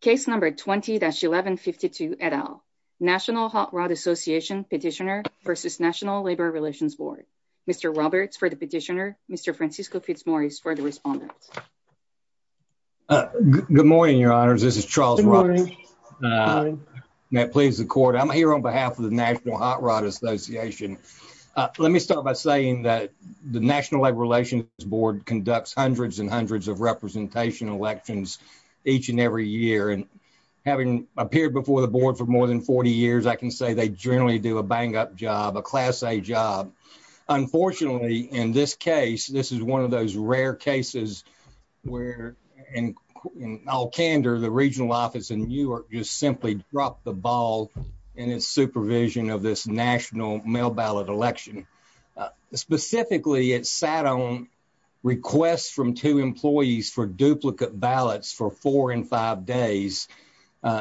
Case number 20-1152 et al. National Hot Rod Association petitioner versus National Labor Relations Board. Mr. Roberts for the petitioner, Mr. Francisco Fitzmaurice for the respondent. Good morning, your honors. This is Charles Roberts. May it please the court, I'm here on behalf of the National Hot Rod Association. Let me start by saying that the National Labor Relations Board conducts hundreds and hundreds of representation elections each and every year, and having appeared before the board for more than 40 years, I can say they generally do a bang-up job, a class-A job. Unfortunately, in this case, this is one of those rare cases where, in all candor, the regional office in Newark just simply dropped the ball in its supervision of this national mail ballot election. Specifically, it sat on requests from two employees for duplicate ballots for four and five days,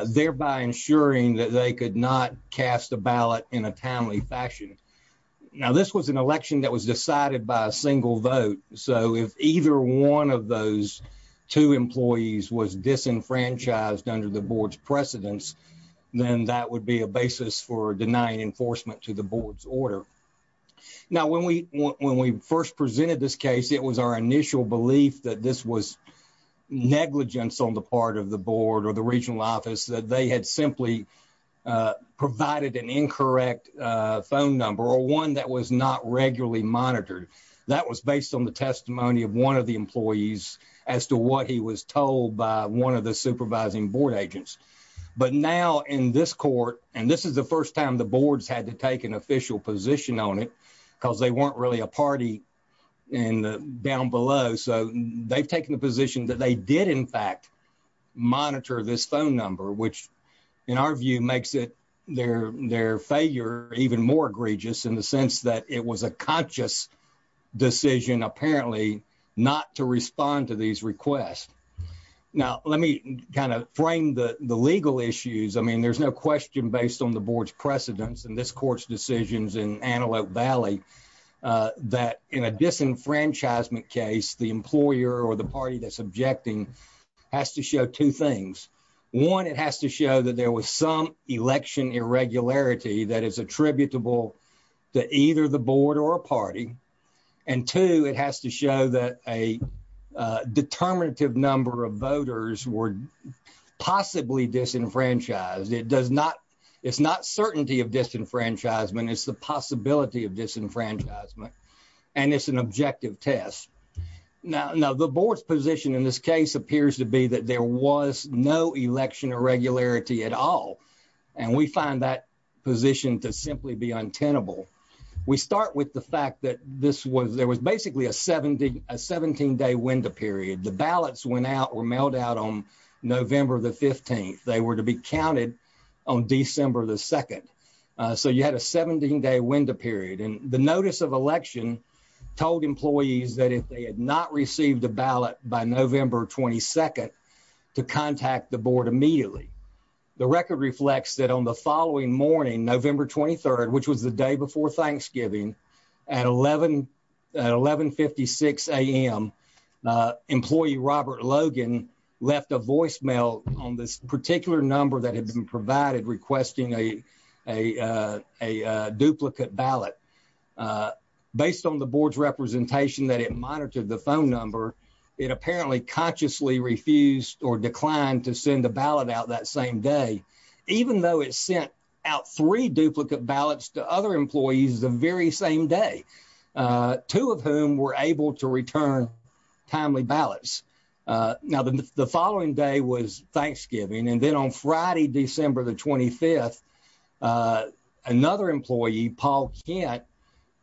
thereby ensuring that they could not cast a ballot in a timely fashion. Now, this was an election that was decided by a single vote, so if either one of those two employees was disenfranchised under the board's precedence, then that would be a basis for denying enforcement to the board's order. Now, when we first presented this case, it was our initial belief that this was negligence on the part of the board or the regional office, that they had simply provided an incorrect phone number or one that was not regularly monitored. That was based on the testimony of one of the employees as to what he was told by one of the supervising board agents. But now, in this court, and this is the first time the boards had to take an official position on it because they weren't really a party down below, so they've taken the position that they did, in fact, monitor this phone number, which, in our view, makes their failure even more egregious in the sense that it was a conscious decision, apparently, not to respond to these requests. Now, let me kind of frame the legal issues. I mean, there's no question based on the board's precedence in this court's decisions in Antelope Valley that, in a disenfranchisement case, the employer or the party that's objecting has to show two things. One, it has to show that there was some election irregularity that is attributable to either the board or a party, and two, it has to show that a determinative number of voters were possibly disenfranchised. It's not certainty of disenfranchisement. It's the possibility of disenfranchisement, and it's an objective test. Now, the board's position in this case appears to be that there was no election irregularity at all, and we find that position to simply be untenable. We start with the fact that there was basically a 17-day window period. The ballots went out or mailed out on November the 15th. They were to be counted on December the 2nd, so you had a 17-day window period, and the notice of election told employees that if they had not received a ballot by November 22nd to contact the board immediately. The record reflects that on the following morning, November 23rd, which was the 11.56 a.m., employee Robert Logan left a voicemail on this particular number that had been provided requesting a duplicate ballot. Based on the board's representation that it monitored the phone number, it apparently consciously refused or declined to send a ballot out that same day, even though it sent out three duplicate ballots to other employees the same day, two of whom were able to return timely ballots. Now, the following day was Thanksgiving, and then on Friday, December the 25th, another employee, Paul Kent,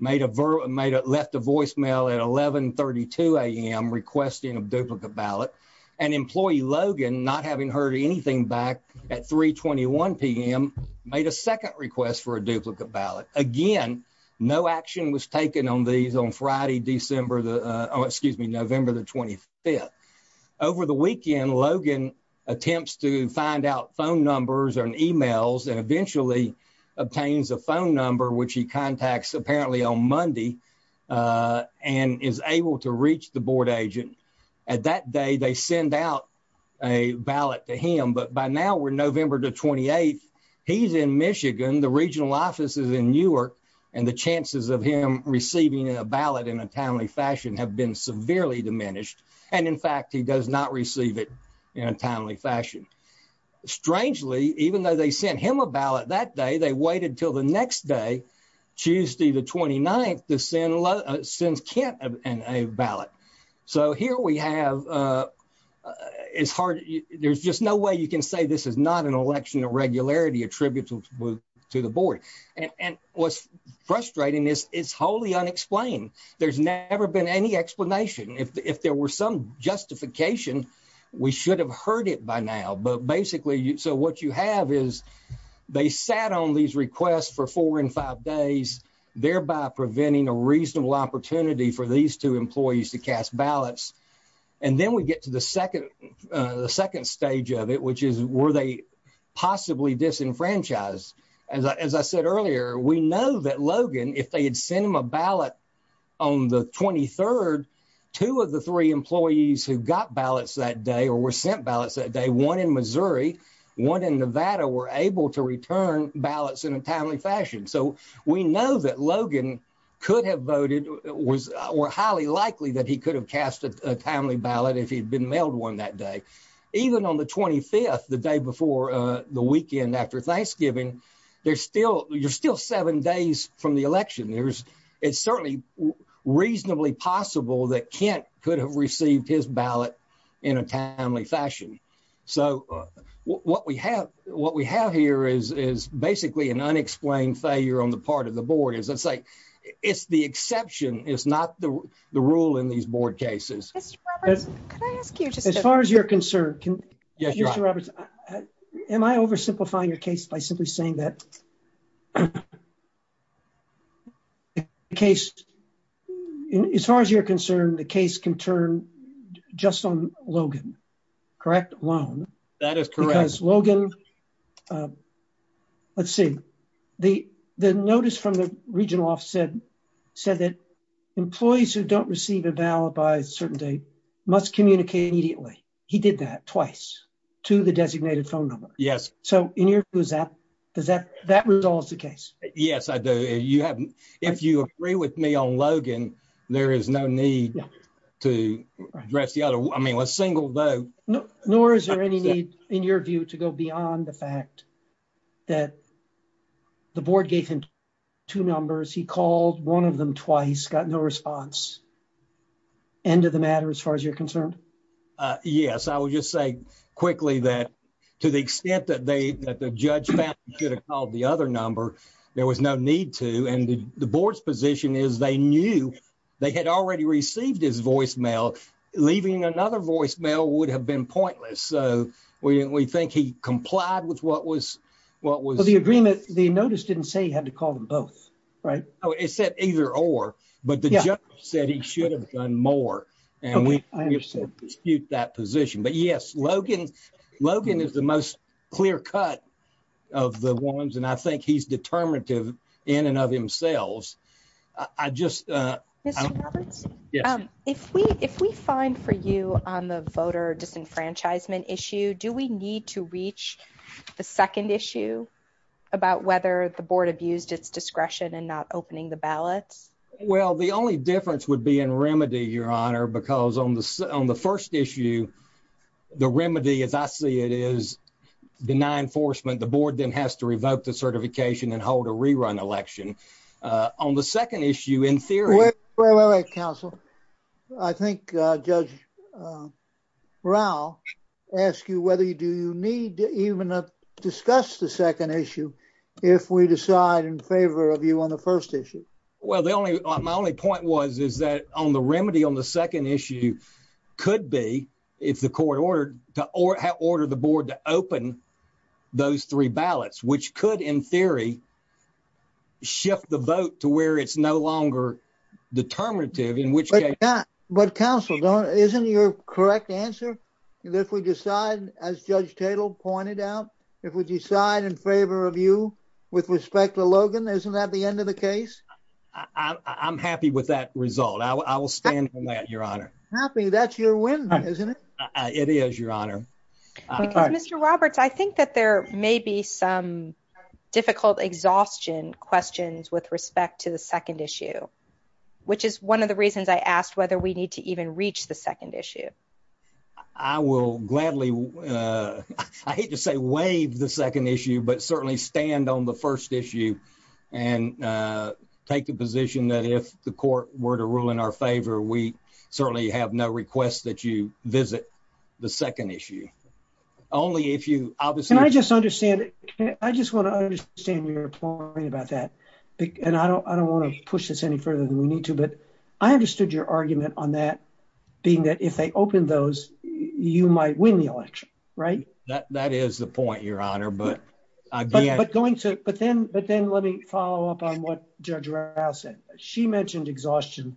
left a voicemail at 11.32 a.m. requesting a duplicate ballot, and employee Logan, not having heard anything back at 3.21 p.m., made a second request for a duplicate ballot. Again, no action was taken on these on Friday, November the 25th. Over the weekend, Logan attempts to find out phone numbers and emails and eventually obtains a phone number, which he contacts apparently on Monday, and is able to reach the board agent. At that day, they send out a ballot to him, but by now we're November the 28th. He's in Michigan. The regional office is in Newark, and the chances of him receiving a ballot in a timely fashion have been severely diminished, and in fact, he does not receive it in a timely fashion. Strangely, even though they sent him a ballot that day, they waited until the next day, Tuesday the 29th, to send Kent a ballot. So here we have, it's hard, there's just no way you can say this is not an election irregularity attributable to the board, and what's frustrating is it's wholly unexplained. There's never been any explanation. If there were some justification, we should have heard it by now, but basically, so what you have is they sat on these requests for four and five days, thereby preventing a ballots, and then we get to the second stage of it, which is were they possibly disenfranchised. As I said earlier, we know that Logan, if they had sent him a ballot on the 23rd, two of the three employees who got ballots that day or were sent ballots that day, one in Missouri, one in Nevada, were able to return ballots in a timely fashion. So we know that Logan could have cast a timely ballot if he'd been mailed one that day. Even on the 25th, the day before the weekend after Thanksgiving, you're still seven days from the election. It's certainly reasonably possible that Kent could have received his ballot in a timely fashion. So what we have here is basically an unexplained failure on the part of the board. As I say, it's the exception, it's not the rule in these board cases. As far as you're concerned, Mr. Roberts, am I oversimplifying your case by simply saying that the case, as far as you're concerned, the case can turn just on Logan, correct, alone? That is correct. Because Logan, let's see, the notice from the regional office said that employees who don't receive a ballot by a certain date must communicate immediately. He did that twice to the designated phone number. Yes. So in your view, does that resolve the case? Yes, I do. If you agree with me on Logan, there is no need to address the other. I mean, a single vote... Nor is there any need, in your view, to go beyond the fact that the board gave him two numbers, he called one of them twice, got no response. End of the matter, as far as you're concerned? Yes. I will just say quickly that to the extent that the judge found he could have called the other number, there was no need to. And the board's position is they knew they had already received his voicemail. Leaving another voicemail would have been pointless. So we think he complied with what was... The agreement, the notice didn't say he had to call them both, right? It said either or, but the judge said he should have done more. And we dispute that position. But yes, Logan is the most clear cut of the ones, and I think he's disenfranchisement issue. Do we need to reach the second issue about whether the board abused its discretion in not opening the ballots? Well, the only difference would be in remedy, Your Honor, because on the first issue, the remedy, as I see it, is deny enforcement. The board then has to revoke the certification and hold a rerun election. On the second issue, in theory... Wait, wait, wait, counsel. I think Judge Rao asked you whether you do need to even discuss the second issue if we decide in favor of you on the first issue. Well, my only point was is that on the remedy on the second issue could be if the court ordered the board to open those three ballots, which could, in theory, shift the vote to where it's no longer determinative, in which case... But counsel, isn't your correct answer that if we decide, as Judge Tatel pointed out, if we decide in favor of you with respect to Logan, isn't that the end of the case? I'm happy with that result. I will stand on that, Your Honor. Happy? That's your isn't it? It is, Your Honor. Mr. Roberts, I think that there may be some difficult exhaustion questions with respect to the second issue, which is one of the reasons I asked whether we need to even reach the second issue. I will gladly... I hate to say waive the second issue, but certainly stand on the first issue and take the position that if the court were to rule in our favor, we certainly have no request that you visit the second issue. Only if you obviously... Can I just understand? I just want to understand your point about that. And I don't want to push this any further than we need to, but I understood your argument on that being that if they open those, you might win the election, right? That is the point, Your Honor, but... But then let me follow up on what Judge Rao said. She mentioned exhaustion.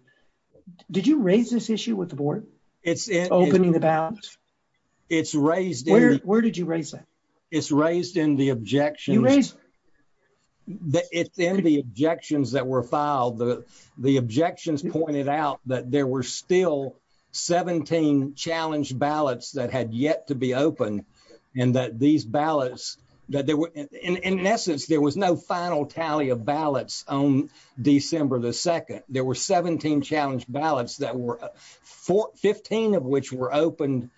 Did you raise this issue with the board? Opening the ballots? It's raised... Where did you raise that? It's raised in the objections... You raised... It's in the objections that were filed. The objections pointed out that there were still 17 challenge ballots that had yet to be opened and that these ballots... In essence, there was no final tally of ballots on December the 2nd. There were 17 challenge ballots that were... 15 of which were opened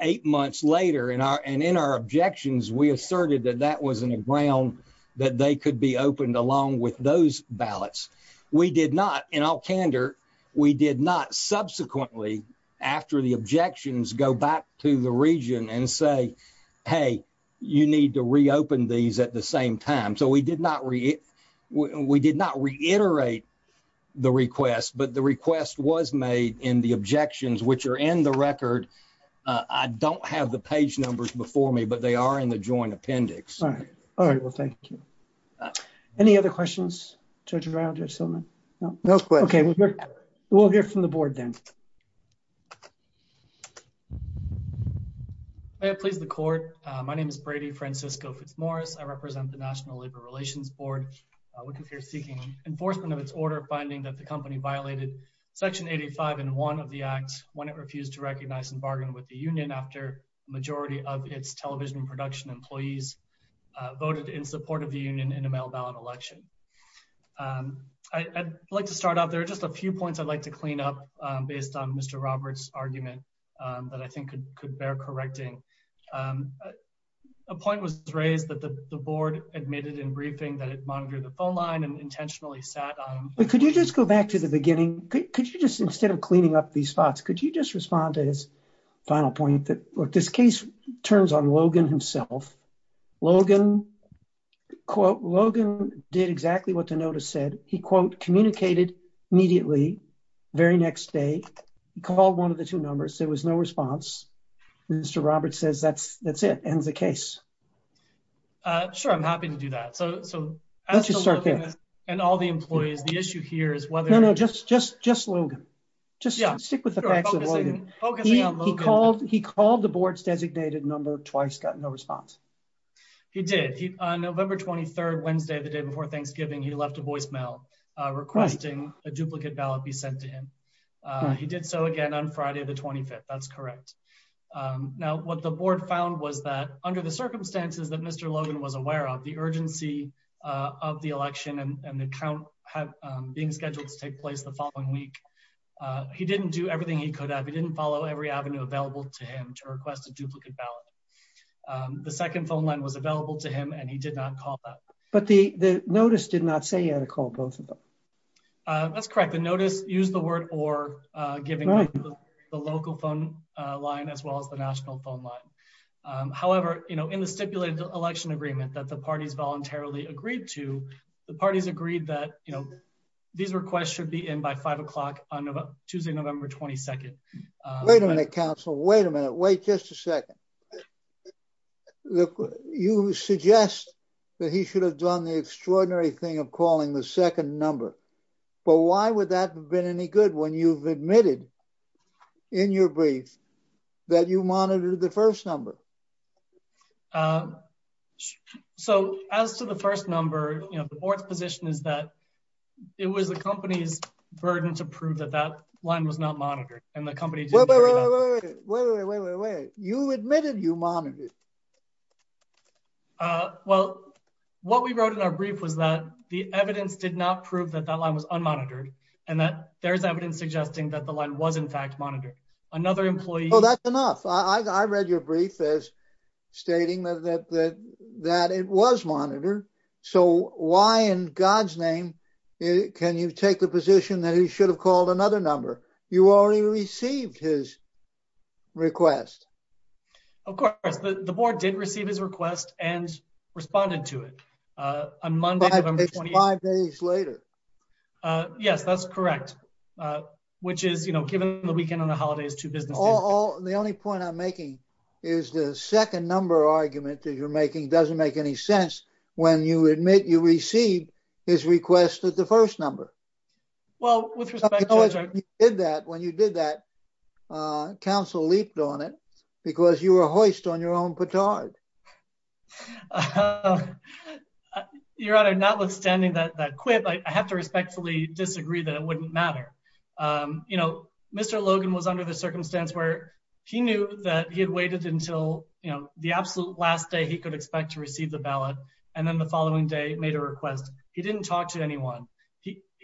eight months later. And in our objections, we asserted that that wasn't a ground that they could be opened along with those ballots. We did not, in all candor, we did not subsequently, after the objections, go back to the region and say, hey, you need to reopen these at the same time. So we did not reiterate the request, but the request was made in the objections, which are in the record. I don't have the page numbers before me, but they are in the joint appendix. All right. Well, thank you. Any other questions, Judge Rao, Judge Silliman? No. No questions. Okay, we'll hear from the board then. May it please the court. My name is Brady Francisco Fitzmaurice. I represent the National Labor Relations Board. We're here seeking enforcement of its order, finding that the company violated section 85 and 1 of the act when it refused to recognize and bargain with the union after the majority of its television production employees voted in support of the union in a mail ballot election. I'd like to start off. There are just a few points I'd like to clean up based on Mr. Roberts' argument that I think could bear correcting. A point was raised that the board admitted in briefing that it monitored the phone line and intentionally sat on it. Could you just go back to the beginning? Could you just, instead of cleaning up these spots, could you just respond to his final point that, look, this case turns on Logan himself. Logan, quote, Logan did exactly what the notice said. He, quote, communicated immediately, very next day, called one of the two numbers. There was no response. Mr. Roberts says that's, that's it, ends the case. Sure, I'm happy to do that. So, so, and all the employees, the issue here is whether, no, no, just, just, just Logan, just stick with the facts. He called the board's designated number twice, got no response. He did. He, on November 23rd, Wednesday, the day before Thanksgiving, he left a voicemail requesting a duplicate ballot be sent to him. He did so again on Friday, the 25th. That's correct. Now, what the board found was that under the circumstances that Mr. Logan was aware of, the urgency of the election and the count being scheduled to take place the following week, he didn't do everything he could have. He didn't follow every avenue available to him to request a duplicate ballot. The second phone line was available to him and he did not call that. But the, the notice did not say you had to call both of them. That's correct. The notice used the word or giving the local phone line, as well as the national phone line. However, you know, in the stipulated election agreement that the parties voluntarily agreed to, the parties agreed that, you know, these requests should be in by five o'clock on Tuesday, November 22nd. Wait a minute, counsel. Wait a minute. Wait just a second. Look, you suggest that he should have done the extraordinary thing of calling the second number. But why would that have been any good when you've admitted in your brief that you monitored the first number? So as to the first number, you know, the board's position is that it was the company's burden to prove that that line was not monitored and the company... Wait, wait, wait, wait, wait, you admitted you monitored. Well, what we wrote in our brief was that the evidence did not prove that that line was unmonitored and that there's evidence suggesting that the line was in fact monitored. Another employee... Oh, that's enough. I read your brief as stating that it was monitored. So why in God's name can you take the position that he should have called another number? You already received his request. Of course, the board did receive his request and responded to it on Monday, November 28th. It's five days later. Yes, that's correct. Which is, you know, given the weekend on the holidays to business... The only point I'm making is the second number argument that you're making doesn't make any sense when you admit you received his request at the first number. Well, with respect... You did that when you did that. Council leaped on it because you were hoist on your own petard. Your Honor, notwithstanding that quip, I have to respectfully disagree that it wouldn't matter. You know, Mr. Logan was under the circumstance where he knew that he had waited until, you know, the absolute last day he could expect to receive the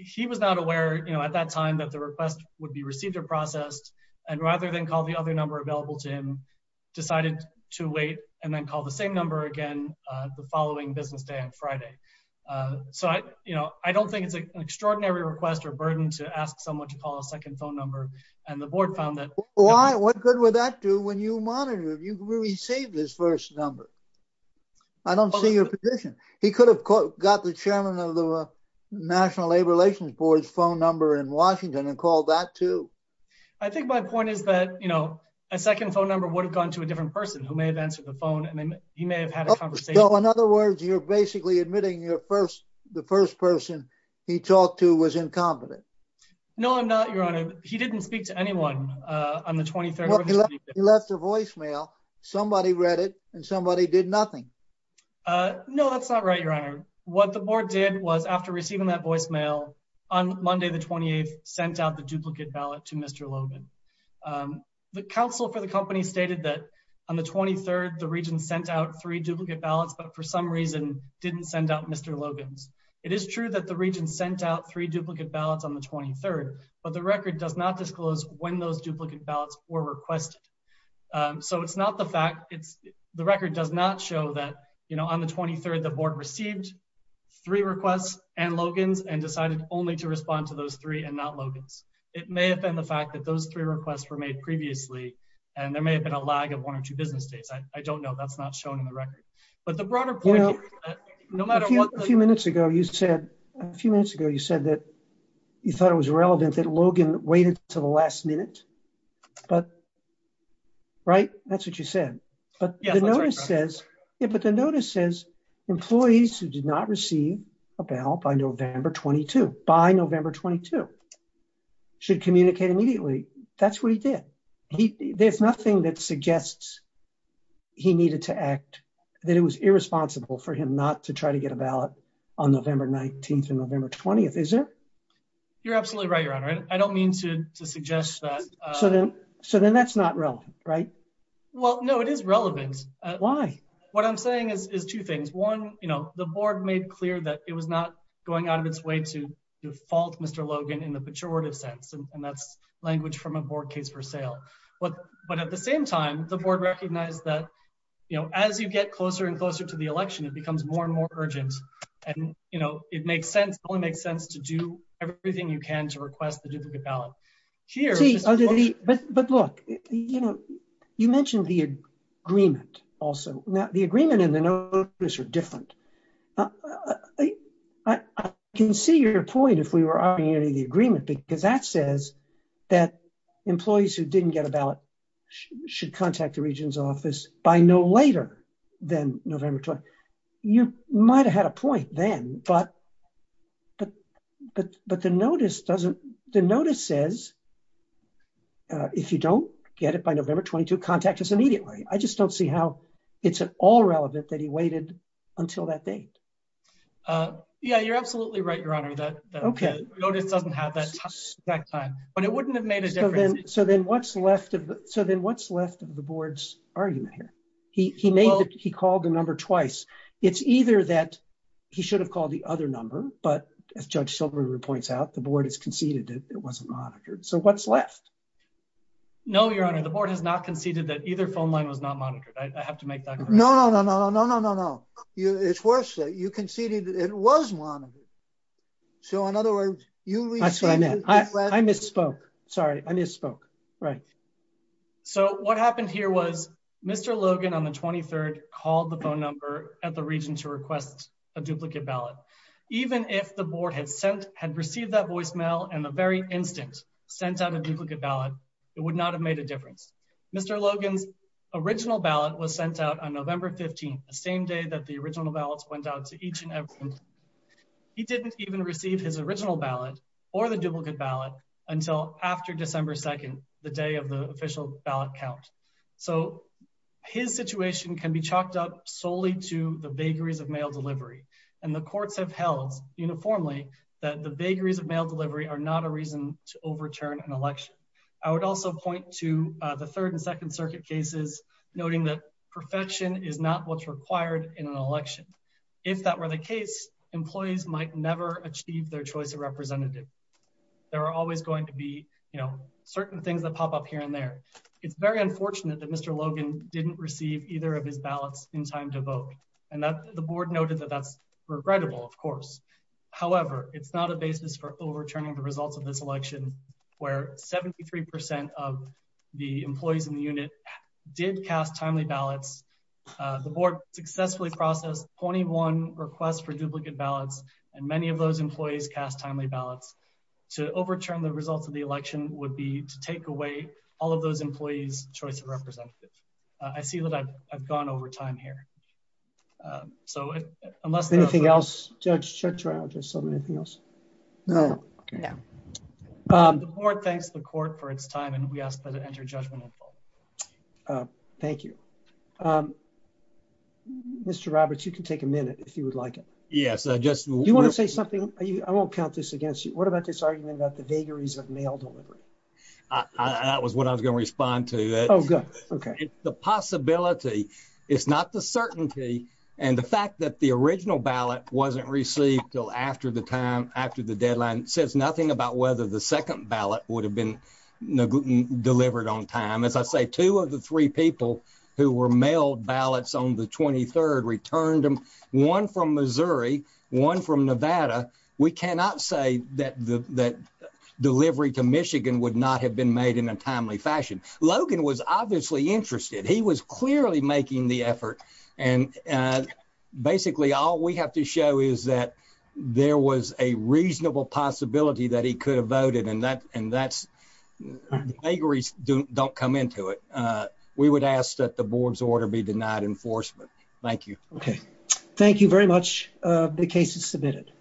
He was not aware, you know, at that time that the request would be received or processed, and rather than call the other number available to him, decided to wait and then call the same number again the following business day on Friday. So, you know, I don't think it's an extraordinary request or burden to ask someone to call a second phone number. And the board found that... Why? What good would that do when you monitored? You received his first number. I don't see your position. He could have got the chairman of the National Labor Relations Board's phone number in Washington and called that too. I think my point is that, you know, a second phone number would have gone to a different person who may have answered the phone and then he may have had a conversation. So, in other words, you're basically admitting the first person he talked to was incompetent. No, I'm not, Your Honor. He didn't speak to anyone on the 23rd. He left a voicemail. Somebody read it and somebody did nothing. No, that's not right, Your Honor. What the board did was, after receiving that voicemail on Monday, the 28th, sent out the duplicate ballot to Mr. Logan. The counsel for the company stated that on the 23rd, the region sent out three duplicate ballots, but for some reason didn't send out Mr. Logan's. It is true that the region sent out three duplicate ballots on the 23rd, but the record does not disclose when those duplicate ballots were requested. So, it's not the fact, the record does not show that, you know, on the 23rd, the board received three requests and Logan's and decided only to respond to those three and not Logan's. It may have been the fact that those three requests were made previously and there may have been a lag of one or two business days. I don't know. That's not shown in the record, but the broader point is that no matter what... A few minutes ago, you said that you thought it was irrelevant that Logan waited to the last minute, but, right? That's what you said. But the notice says, employees who did not receive a ballot by November 22, by November 22, should communicate immediately. That's what he did. There's nothing that suggests he needed to act, that it was irresponsible for him not to try to get a ballot on November 19th or November 20th, is it? You're absolutely right, Your Honor. I don't mean to suggest that... So then that's not relevant, right? Well, no, it is relevant. Why? What I'm saying is two things. One, you know, the board made clear that it was not going out of its way to default Mr. Logan in the pejorative sense, and that's language from a board case for sale. But at the same time, the board recognized that, you know, as you get closer and make sense to do everything you can to request the duplicate ballot. But look, you know, you mentioned the agreement also. Now, the agreement and the notice are different. I can see your point if we were arguing the agreement, because that says that employees who didn't get a ballot should contact the region's office by no later than November 22nd. But the notice says if you don't get it by November 22nd, contact us immediately. I just don't see how it's at all relevant that he waited until that date. Yeah, you're absolutely right, Your Honor. The notice doesn't have that exact time, but it wouldn't have made a difference. So then what's left of the board's argument here? He called the number twice. It's either that he should have called the other number, but as Judge Shilbury points out, the board has conceded that it wasn't monitored. So what's left? No, Your Honor, the board has not conceded that either phone line was not monitored. I have to make that clear. No, no, no, no, no, no, no, no. It's worse. You conceded it was monitored. So in other words, you... That's what I meant. I misspoke. Sorry. I misspoke. Right. So what happened here was Mr. Logan on the 23rd called the phone number at the region to request a duplicate ballot. Even if the board had sent, had received that voicemail and the very instant sent out a duplicate ballot, it would not have made a difference. Mr. Logan's original ballot was sent out on November 15th, the same day that the original ballots went out to each and every individual. He didn't even receive his original ballot or the duplicate ballot until after December 2nd, the day of the official ballot count. So his situation can be chalked up solely to the vagaries of mail delivery and the courts have held uniformly that the vagaries of mail delivery are not a reason to overturn an election. I would also point to the third and second circuit cases noting that perfection is not what's required in an election. If that were the case, employees might never achieve their choice of representative. There are always going to be, you know, certain things that pop up here and there. It's very unfortunate that Mr. Logan didn't receive either of his ballots in time to vote and that the board noted that that's regrettable, of course. However, it's not a basis for overturning the results of this election where 73 percent of the employees in the unit did cast timely ballots. The board successfully processed 21 requests for duplicate ballots and many of those employees cast timely ballots. To overturn the results of the election would be to take away all of those employees' choice of representative. I see that I've gone over time here. So unless anything else, Judge, shut your mouth or something. Anything else? No. The board thanks the court for its time and we ask that it enter judgment in full. Thank you. Mr. Roberts, you can take a minute if you would like it. Yes, I just... Do you want to say something? I won't count this against you. What about this argument about the vagaries of mail delivery? That was what I was going to respond to. Okay. The possibility is not the certainty and the fact that the original ballot wasn't received till after the time after the deadline says nothing about whether the second ballot would have been delivered on time. As I say, two of the three people who were mailed ballots on the 23rd returned them. One from Missouri, one from Nevada. We cannot say that that delivery to Michigan would not have been made in a timely fashion. Logan was obviously interested. He was clearly making the effort and basically all we have to show is that there was a reasonable possibility that he could have voted and that vagaries don't come into it. We would ask that the board's order be denied enforcement. Thank you. Okay. Thank you very much. The case is submitted.